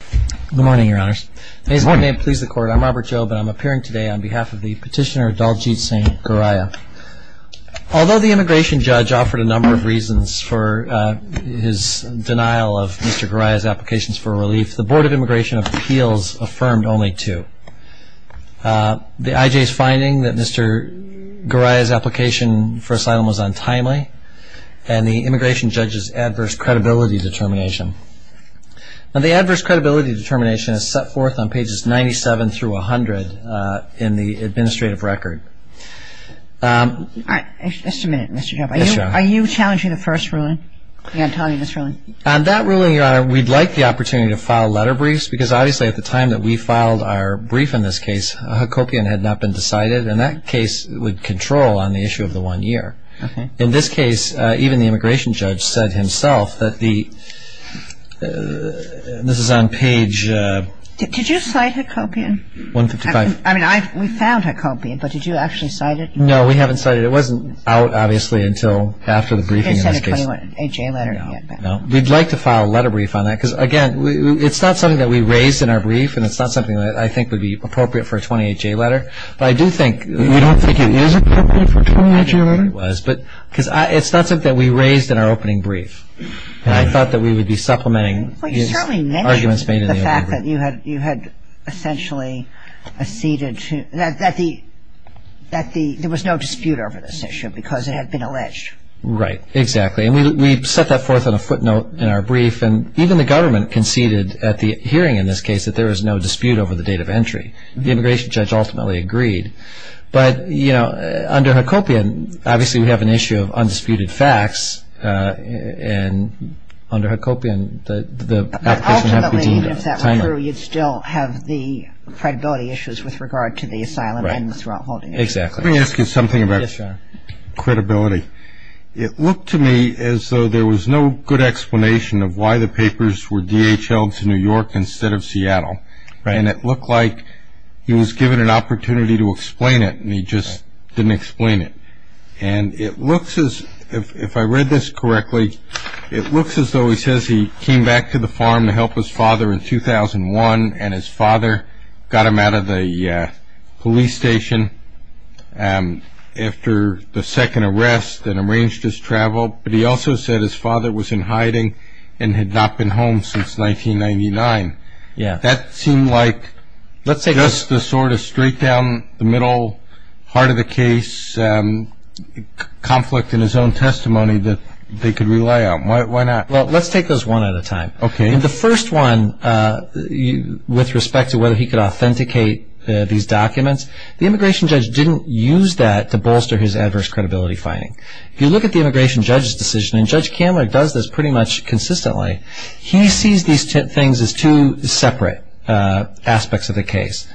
Good morning, Your Honors. May his good name please the Court. I'm Robert Jobe and I'm appearing today on behalf of the petitioner Daljeet Singh Goraya. Although the immigration judge offered a number of reasons for his denial of Mr. Goraya's applications for relief, the Board of Immigration Appeals affirmed only two. The IJ's finding that Mr. Goraya's application for asylum was untimely and the immigration judge's adverse credibility determination. Now, the adverse credibility determination is set forth on pages 97 through 100 in the administrative record. Just a minute, Mr. Jobe. Are you challenging the first ruling? Yeah, I'm telling you this ruling. On that ruling, Your Honor, we'd like the opportunity to file letter briefs because obviously at the time that we filed our brief in this case, a Hacopian had not been decided and that case would control on the issue of the one year. In this case, even the immigration judge said himself that the – this is on page – Did you cite Hacopian? 155. I mean, we found Hacopian, but did you actually cite it? No, we haven't cited it. It wasn't out, obviously, until after the briefing in this case. You didn't cite a 28-J letter? No. We'd like to file a letter brief on that because, again, it's not something that we raised in our brief and it's not something that I think would be appropriate for a 28-J letter, but I do think – You don't think it is appropriate for a 28-J letter? I don't think it was because it's not something that we raised in our opening brief and I thought that we would be supplementing his arguments made in the opening brief. Well, you certainly mentioned the fact that you had essentially acceded to – that there was no dispute over this issue because it had been alleged. Right. Exactly. And we set that forth on a footnote in our brief and even the government conceded at the hearing in this case that there was no dispute over the date of entry. The immigration judge ultimately agreed. But, you know, under Hacopian, obviously, we have an issue of undisputed facts and under Hacopian, the application – But ultimately, if that were true, you'd still have the credibility issues with regard to the asylum and the throat holding issue. Right. Exactly. Let me ask you something about credibility. It looked to me as though there was no good explanation of why the papers were DHLed to New York instead of Seattle. Right. And it looked like he was given an opportunity to explain it and he just didn't explain it. And it looks as – if I read this correctly, it looks as though he says he came back to the farm to help his father in 2001 and his father got him out of the police station after the second arrest and arranged his travel. But he also said his father was in hiding and had not been home since 1999. Yeah. That seemed like just the sort of straight down the middle, heart of the case conflict in his own testimony that they could rely on. Why not? Well, let's take those one at a time. Okay. The first one, with respect to whether he could authenticate these documents, the immigration judge didn't use that to bolster his adverse credibility finding. If you look at the immigration judge's decision, and Judge Kammerich does this pretty much consistently, he sees these things as two separate aspects of the case.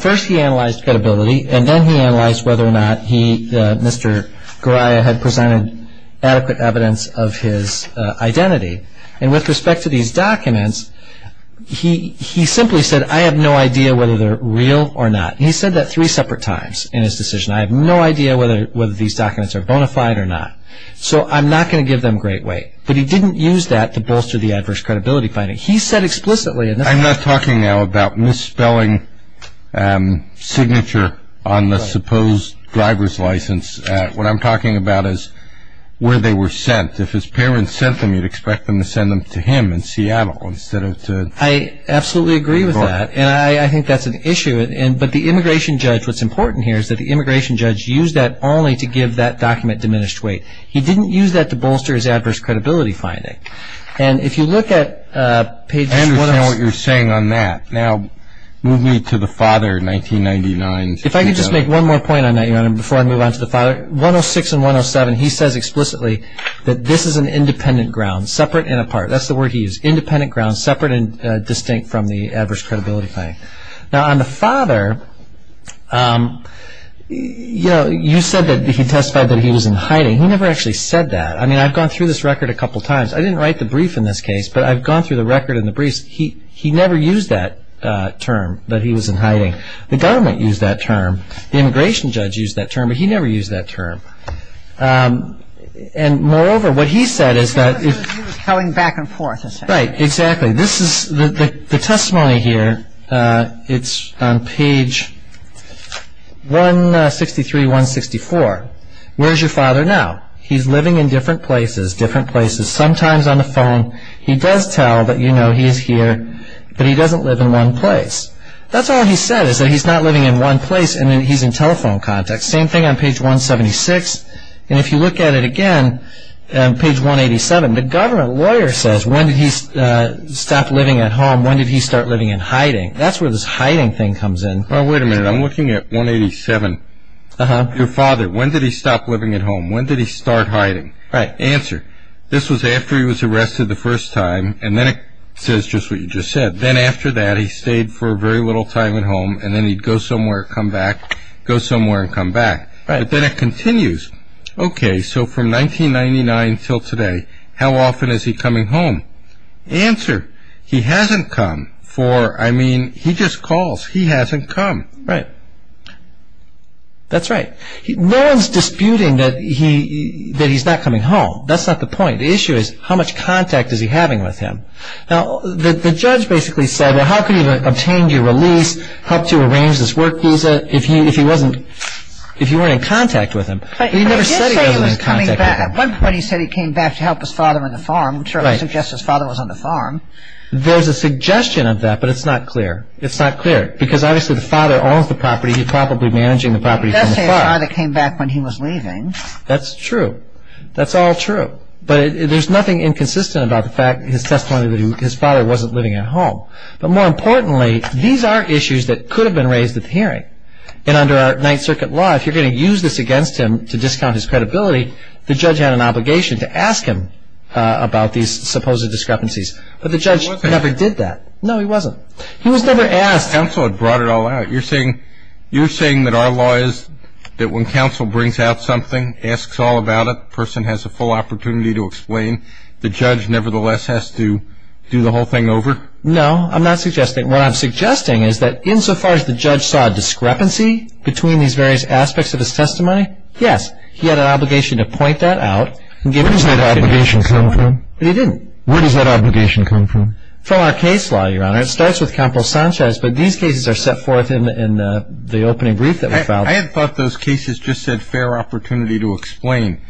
First he analyzed credibility and then he analyzed whether or not he, Mr. Goraya, had presented adequate evidence of his identity. And with respect to these documents, he simply said, I have no idea whether they're real or not. And he said that three separate times in his decision. I have no idea whether these documents are bona fide or not. So I'm not going to give them great weight. But he didn't use that to bolster the adverse credibility finding. He said explicitly. I'm not talking now about misspelling signature on the supposed driver's license. What I'm talking about is where they were sent. If his parents sent them, you'd expect them to send them to him in Seattle. I absolutely agree with that. And I think that's an issue. But the immigration judge, what's important here, is that the immigration judge used that only to give that document diminished weight. He didn't use that to bolster his adverse credibility finding. And if you look at pages 106. I understand what you're saying on that. Now, move me to the father, 1999. If I could just make one more point on that, Your Honor, before I move on to the father. 106 and 107, he says explicitly that this is an independent ground, separate and apart. That's the word he used. Independent ground, separate and distinct from the adverse credibility finding. Now, on the father, you said that he testified that he was in hiding. He never actually said that. I mean, I've gone through this record a couple times. I didn't write the brief in this case, but I've gone through the record and the briefs. He never used that term that he was in hiding. The government used that term. The immigration judge used that term, but he never used that term. And moreover, what he said is that if he was going back and forth. Right. Exactly. The testimony here, it's on page 163, 164. Where's your father now? He's living in different places, different places, sometimes on the phone. He does tell that, you know, he's here, but he doesn't live in one place. That's all he said is that he's not living in one place and that he's in telephone contact. Same thing on page 176. And if you look at it again, page 187, the government lawyer says, when did he stop living at home, when did he start living in hiding? That's where this hiding thing comes in. Well, wait a minute. I'm looking at 187. Your father, when did he stop living at home, when did he start hiding? Right. Answer. This was after he was arrested the first time, and then it says just what you just said. Then after that, he stayed for a very little time at home, and then he'd go somewhere, come back, go somewhere, and come back. Right. But then it continues. Okay, so from 1999 until today, how often is he coming home? Answer. He hasn't come for, I mean, he just calls. He hasn't come. Right. That's right. No one's disputing that he's not coming home. That's not the point. The issue is how much contact is he having with him. Now, the judge basically said, well, how could he have obtained your release, helped you arrange this work visa if you weren't in contact with him? But he never said he wasn't in contact with him. But he did say he was coming back. At one point he said he came back to help his father on the farm. I'm sure it suggests his father was on the farm. There's a suggestion of that, but it's not clear. It's not clear because obviously the father owns the property. He's probably managing the property from the farm. He does say his father came back when he was leaving. That's true. That's all true. But there's nothing inconsistent about the fact, his testimony, that his father wasn't living at home. But more importantly, these are issues that could have been raised at the hearing. And under our Ninth Circuit law, if you're going to use this against him to discount his credibility, the judge had an obligation to ask him about these supposed discrepancies. But the judge never did that. No, he wasn't. He was never asked. Counsel had brought it all out. You're saying that our law is that when counsel brings out something, asks all about it, the person has a full opportunity to explain, the judge nevertheless has to do the whole thing over? No, I'm not suggesting. What I'm suggesting is that insofar as the judge saw a discrepancy between these various aspects of his testimony, yes, he had an obligation to point that out and give it to the Ninth Circuit. Where does that obligation come from? But he didn't. Where does that obligation come from? From our case law, Your Honor. It starts with Compro Sanchez, but these cases are set forth in the opening brief that we filed. I had thought those cases just said fair opportunity to explain,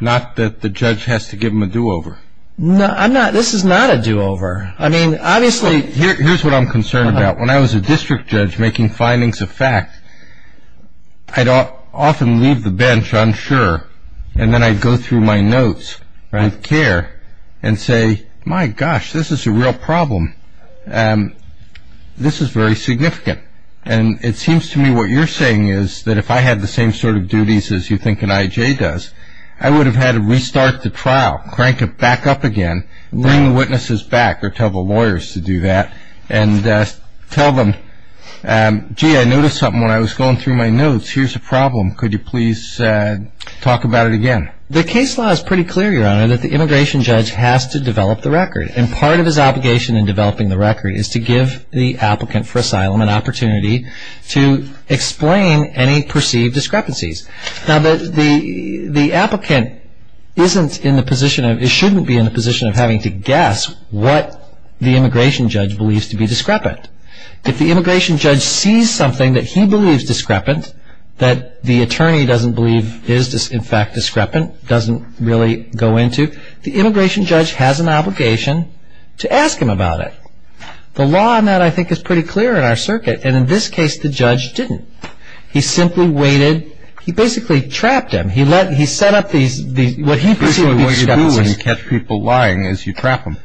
not that the judge has to give him a do-over. No, I'm not. This is not a do-over. I mean, obviously. Here's what I'm concerned about. When I was a district judge making findings of fact, I'd often leave the bench unsure, and then I'd go through my notes of care and say, my gosh, this is a real problem. This is very significant. And it seems to me what you're saying is that if I had the same sort of duties as you think an I.J. does, I would have had to restart the trial, crank it back up again, bring the witnesses back or tell the lawyers to do that, and tell them, gee, I noticed something when I was going through my notes. Here's a problem. Could you please talk about it again? The case law is pretty clear, Your Honor, that the immigration judge has to develop the record. And part of his obligation in developing the record is to give the applicant for asylum an opportunity to explain any perceived discrepancies. Now, the applicant shouldn't be in the position of having to guess what the immigration judge believes to be discrepant. If the immigration judge sees something that he believes discrepant, that the attorney doesn't believe is, in fact, discrepant, doesn't really go into, the immigration judge has an obligation to ask him about it. The law on that, I think, is pretty clear in our circuit. And in this case, the judge didn't. He simply waited. He basically trapped him. He set up what he perceived to be discrepancies. Basically what you do when you catch people lying is you trap them.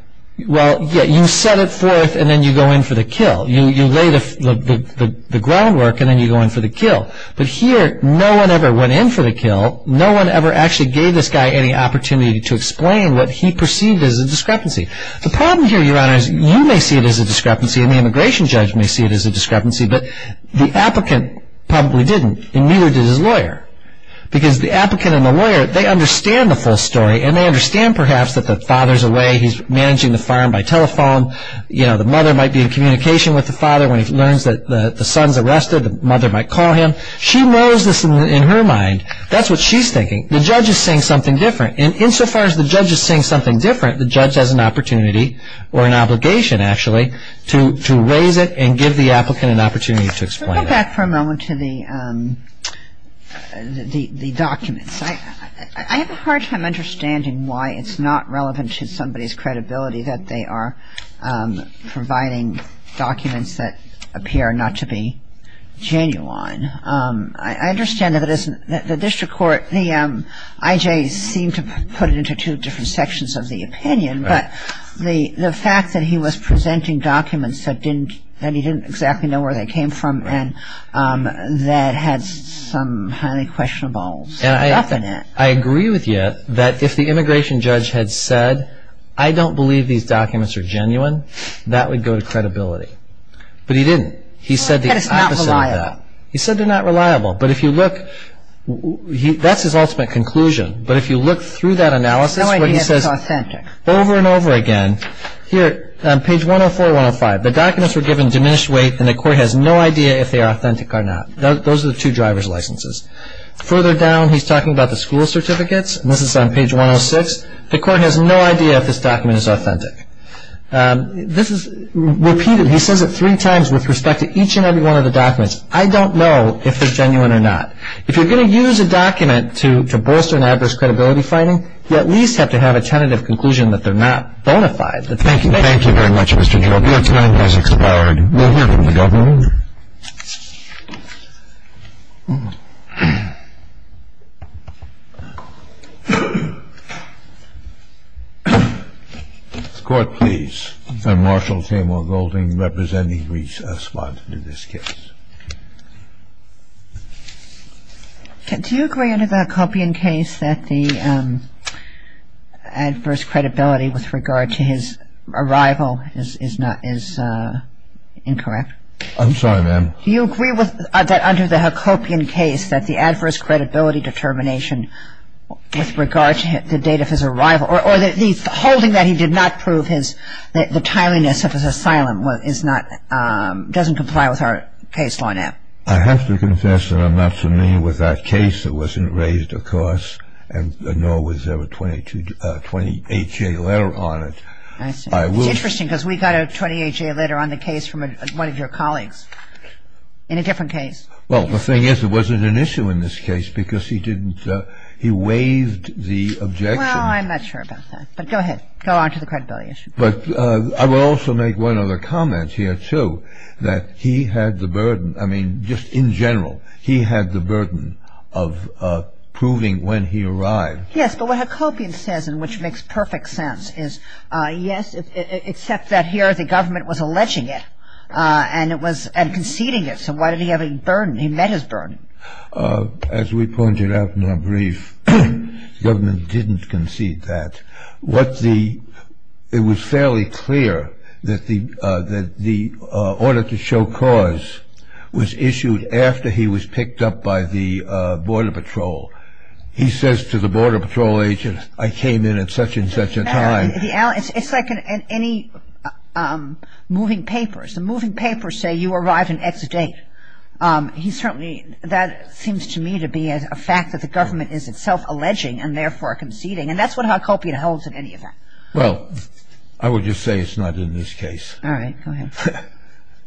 Well, yeah, you set it forth and then you go in for the kill. You lay the groundwork and then you go in for the kill. But here, no one ever went in for the kill. No one ever actually gave this guy any opportunity to explain what he perceived as a discrepancy. The problem here, Your Honor, is you may see it as a discrepancy and the immigration judge may see it as a discrepancy, but the applicant probably didn't and neither did his lawyer. Because the applicant and the lawyer, they understand the full story and they understand, perhaps, that the father's away. He's managing the farm by telephone. You know, the mother might be in communication with the father when he learns that the son's arrested. The mother might call him. She knows this in her mind. That's what she's thinking. The judge is saying something different. And insofar as the judge is saying something different, the judge has an opportunity or an obligation, actually, to raise it and give the applicant an opportunity to explain it. Let's go back for a moment to the documents. I have a hard time understanding why it's not relevant to somebody's credibility that they are providing documents that appear not to be genuine. I understand that the district court, the IJ, seemed to put it into two different sections of the opinion, but the fact that he was presenting documents that he didn't exactly know where they came from and that had some highly questionable stuff in it. I agree with you that if the immigration judge had said, I don't believe these documents are genuine, that would go to credibility. But he didn't. He said the opposite of that. He said they're not reliable. But if you look, that's his ultimate conclusion. But if you look through that analysis where he says over and over again, here on page 104, 105, the documents were given diminished weight and the court has no idea if they are authentic or not. Those are the two driver's licenses. Further down, he's talking about the school certificates, and this is on page 106. The court has no idea if this document is authentic. This is repeated. He says it three times with respect to each and every one of the documents. I don't know if they're genuine or not. If you're going to use a document to bolster an adverse credibility finding, you at least have to have a tentative conclusion that they're not bona fide. Thank you. Thank you very much, Mr. Jorge. That's my analysis of our review. We'll hear from the governor. The court, please. I'm Marshal Tamer Golding, representing Reese Esposito in this case. Do you agree under the Coppion case that the adverse credibility with regard to his arrival is incorrect? I'm sorry, ma'am. Do you agree that under the Coppion case that the adverse credibility determination with regard to the date of his arrival or the holding that he did not prove the timeliness of his asylum doesn't comply with our case law now? I have to confess that I'm not familiar with that case. It wasn't raised, of course, and nor was there a 28-J letter on it. It's interesting because we got a 28-J letter on the case from one of your colleagues in a different case. Well, the thing is it wasn't an issue in this case because he didn't – he waived the objection. Well, I'm not sure about that. But go ahead. Go on to the credibility issue. But I will also make one other comment here, too, that he had the burden – I mean, just in general, he had the burden of proving when he arrived. Yes, but what a Coppion says, and which makes perfect sense, is yes, except that here the government was alleging it and conceding it. So why did he have a burden? He met his burden. As we pointed out in our brief, the government didn't concede that. What the – it was fairly clear that the order to show cause was issued after he was picked up by the Border Patrol. He says to the Border Patrol agent, I came in at such and such a time. It's like in any moving papers. The moving papers say you arrived in X date. He certainly – that seems to me to be a fact that the government is itself alleging and therefore conceding, and that's what a Coppion holds in any event. Well, I would just say it's not in this case. All right. Go ahead.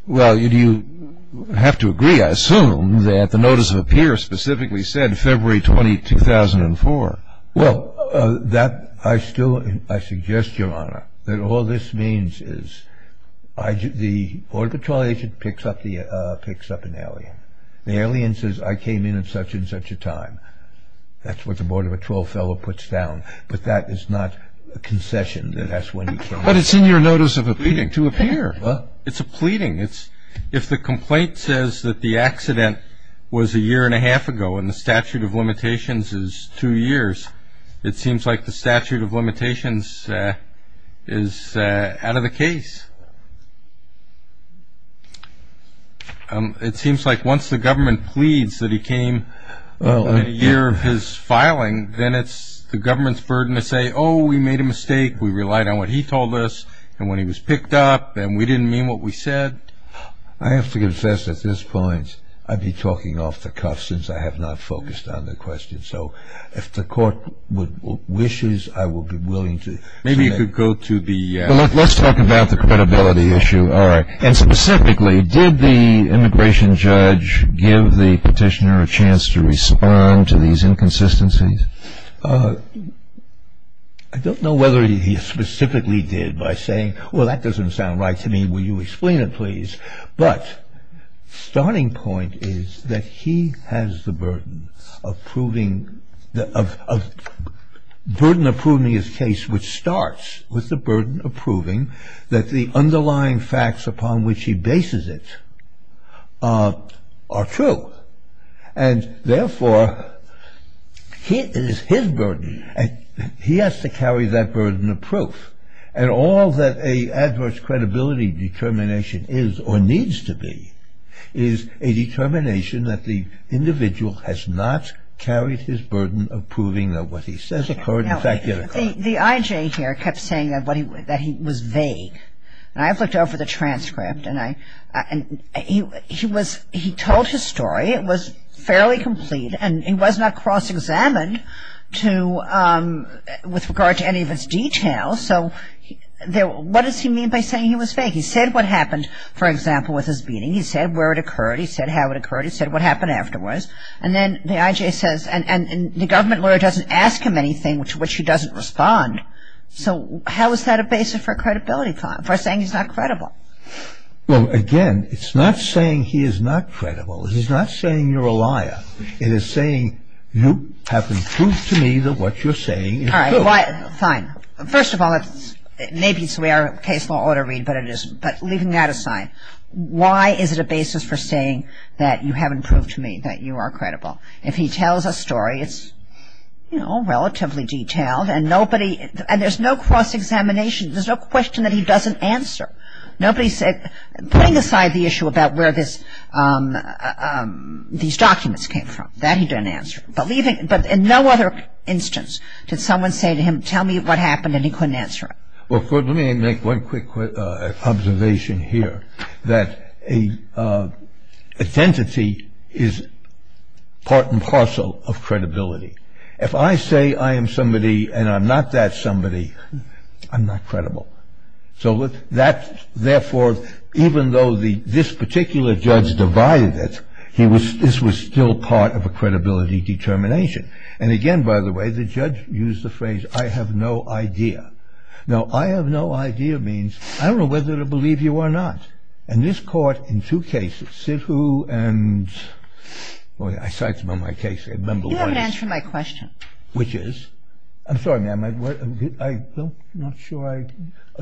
Well, you have to agree, I assume, that the notice of appear specifically said February 20, 2004. Well, that – I still – I suggest, Your Honor, that all this means is the Border Patrol agent picks up an alien. The alien says, I came in at such and such a time. That's what the Border Patrol fellow puts down. But that is not a concession that that's when he came in. But it's in your notice of appealing to appear. Well, it's a pleading. It's – if the complaint says that the accident was a year and a half ago and the statute of limitations is two years, it seems like the statute of limitations is out of the case. It seems like once the government pleads that he came in a year of his filing, then it's the government's burden to say, oh, we made a mistake, we relied on what he told us and when he was picked up and we didn't mean what we said. I have to confess at this point I've been talking off the cuff since I have not focused on the question. So if the court wishes, I will be willing to – Maybe you could go to the – Let's talk about the credibility issue. All right. And specifically, did the immigration judge give the petitioner a chance to respond to these inconsistencies? I don't know whether he specifically did by saying, well, that doesn't sound right to me, will you explain it, please? But starting point is that he has the burden of proving – of burden approving his case which starts with the burden approving that the underlying facts upon which he bases it are true. And therefore, it is his burden. He has to carry that burden of proof. And all that a adverse credibility determination is or needs to be is a determination that the individual has not carried his burden of proving that what he says occurred in fact yet occurred. The I.J. here kept saying that he was vague. And I've looked over the transcript and he was – he told his story, it was fairly complete and he was not cross-examined with regard to any of his details. So what does he mean by saying he was vague? He said what happened, for example, with his beating. He said where it occurred. He said how it occurred. He said what happened afterwards. And then the I.J. says – and the government lawyer doesn't ask him anything to which he doesn't respond. So how is that a basis for credibility – for saying he's not credible? Well, again, it's not saying he is not credible. It is not saying you're a liar. It is saying you haven't proved to me that what you're saying is true. All right. Fine. First of all, maybe it's the way our case law ought to read, but leaving that aside, why is it a basis for saying that you haven't proved to me that you are credible? If he tells a story, it's, you know, relatively detailed and there's no cross-examination, there's no question that he doesn't answer. Nobody said – putting aside the issue about where these documents came from, that he didn't answer. But in no other instance did someone say to him, tell me what happened, and he couldn't answer it. Well, let me make one quick observation here, that identity is part and parcel of credibility. If I say I am somebody and I'm not that somebody, I'm not credible. So therefore, even though this particular judge divided it, this was still part of a credibility determination. And again, by the way, the judge used the phrase, I have no idea. Now, I have no idea means I don't know whether to believe you or not. And this court, in two cases, Sidhu and – I cited them on my case. You haven't answered my question. Which is? I'm sorry, ma'am, I'm not sure I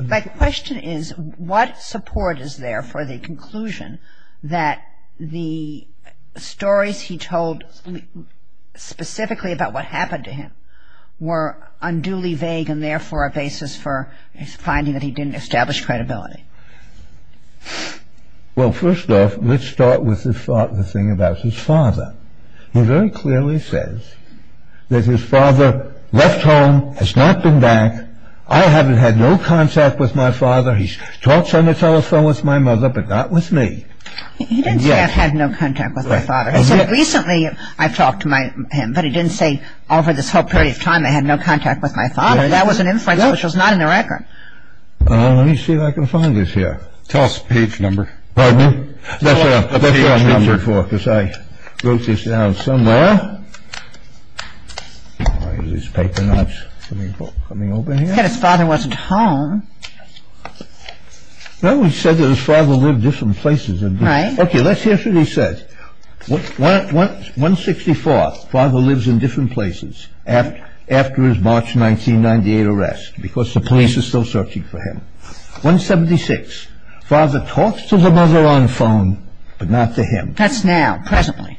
– My question is, what support is there for the conclusion that the stories he told specifically about what happened to him were unduly vague and therefore a basis for finding that he didn't establish credibility? Well, first off, let's start with the thing about his father. He very clearly says that his father left home, has not been back. I haven't had no contact with my father. He talks on the telephone with my mother, but not with me. He didn't say I've had no contact with my father. He said recently I've talked to him, but he didn't say over this whole period of time I had no contact with my father. That was an inference which was not in the record. Let me see if I can find this here. Tell us page number. Pardon me? That's what I'm answering for, because I wrote this down somewhere. All right. Is this paper not coming over here? He said his father wasn't home. No, he said that his father lived different places. Right. Okay. Let's hear what he said. 164, father lives in different places after his March 1998 arrest, because the police are still searching for him. 176, father talks to the mother on the phone, but not to him. That's now, presently.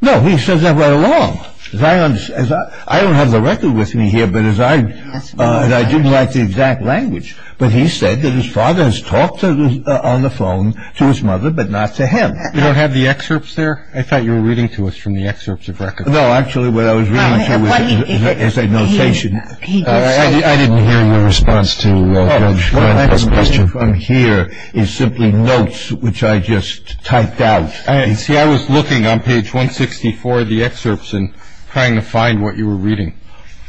No, he says that right along. I don't have the record with me here, but as I didn't like the exact language, but he said that his father has talked on the phone to his mother, but not to him. You don't have the excerpts there? I thought you were reading to us from the excerpts of records. No, actually what I was reading here was his annotation. I didn't hear your response to my first question. What I'm reading from here is simply notes which I just typed out. See, I was looking on page 164 of the excerpts and trying to find what you were reading.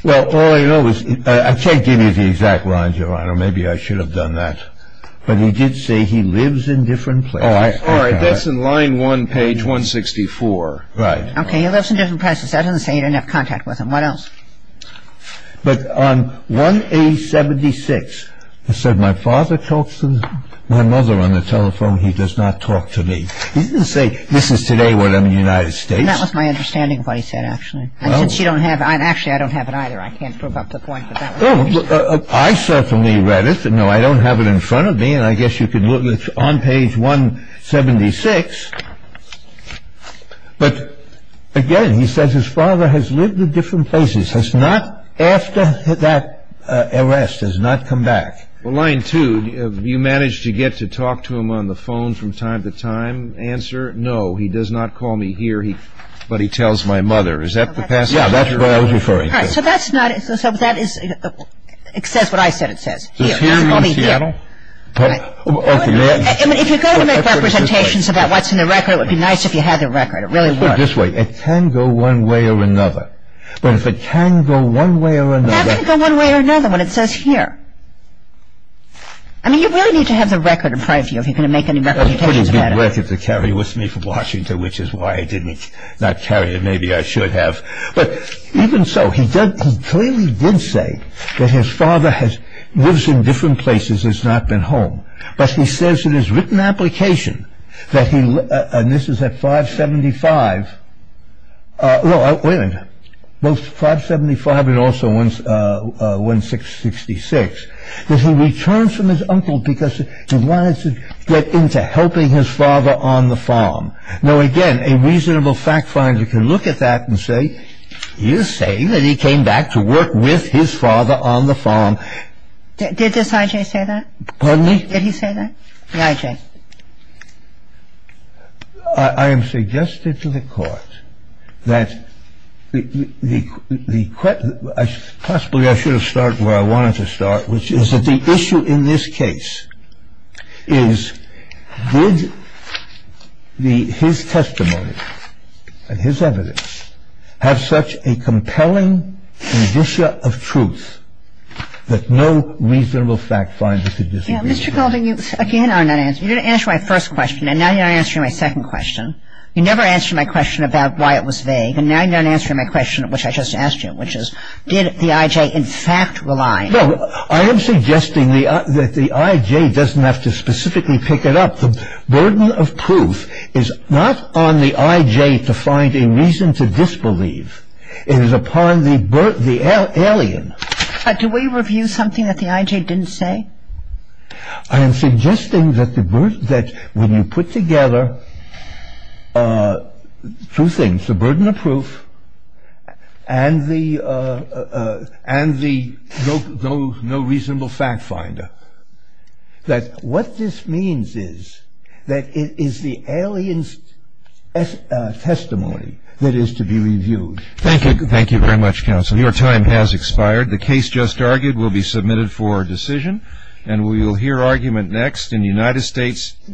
Well, all I know is – I can't give you the exact lines, Your Honor. Maybe I should have done that. But he did say he lives in different places. All right. That's in line 1, page 164. Right. Okay. He lives in different places. That doesn't say you didn't have contact with him. What else? But on 1, page 76, it said, My father talks to my mother on the telephone. He does not talk to me. He didn't say, This is today what I'm in the United States. That was my understanding of what he said, actually. And since you don't have – actually, I don't have it either. I can't prove up the point, but that was what he said. Oh, I certainly read it. No, I don't have it in front of me, and I guess you can look on page 176. But, again, he says, His father has lived in different places. Has not – after that arrest, has not come back. Well, line 2, Have you managed to get to talk to him on the phone from time to time? Answer, No. He does not call me here, but he tells my mother. Is that the passage? Yeah, that's what I was referring to. All right. So that's not – so that is – it says what I said it says. Does here mean Seattle? Right. Okay. If you're going to make representations about what's in the record, it would be nice if you had the record. It really would. Put it this way. It can go one way or another. But if it can go one way or another – It can't go one way or another when it says here. I mean, you really need to have the record in front of you if you're going to make any representations about it. That's a pretty good record to carry with me from Washington, which is why I didn't – not carry it. Maybe I should have. But even so, he does – he clearly did say that his father has – lives in different places, has not been home. But he says in his written application that he – and this is at 575 – well, both 575 and also 166 – that he returns from his uncle because he wanted to get into helping his father on the farm. Now, again, a reasonable fact finder can look at that and say, he is saying that he came back to work with his father on the farm. Did this I.J. say that? Pardon me? Did he say that? The I.J. I am suggesting to the Court that the – possibly I should have started where I wanted to start, which is that the issue in this case is did his testimony and his evidence have such a compelling condition of truth that no reasonable fact finder could disagree with it? Mr. Golding, you again are not answering. You didn't answer my first question, and now you're not answering my second question. You never answered my question about why it was vague, and now you're not answering my question, which I just asked you, which is did the I.J. in fact rely? No. I am suggesting that the I.J. doesn't have to specifically pick it up. The burden of proof is not on the I.J. to find a reason to disbelieve. It is upon the alien. Do we review something that the I.J. didn't say? I am suggesting that when you put together two things, the burden of proof and the no reasonable fact finder, that what this means is that it is the alien's testimony that is to be reviewed. Thank you. Thank you very much, counsel. Your time has expired. The case just argued will be submitted for decision, and we will hear argument next in United States v. Struckman.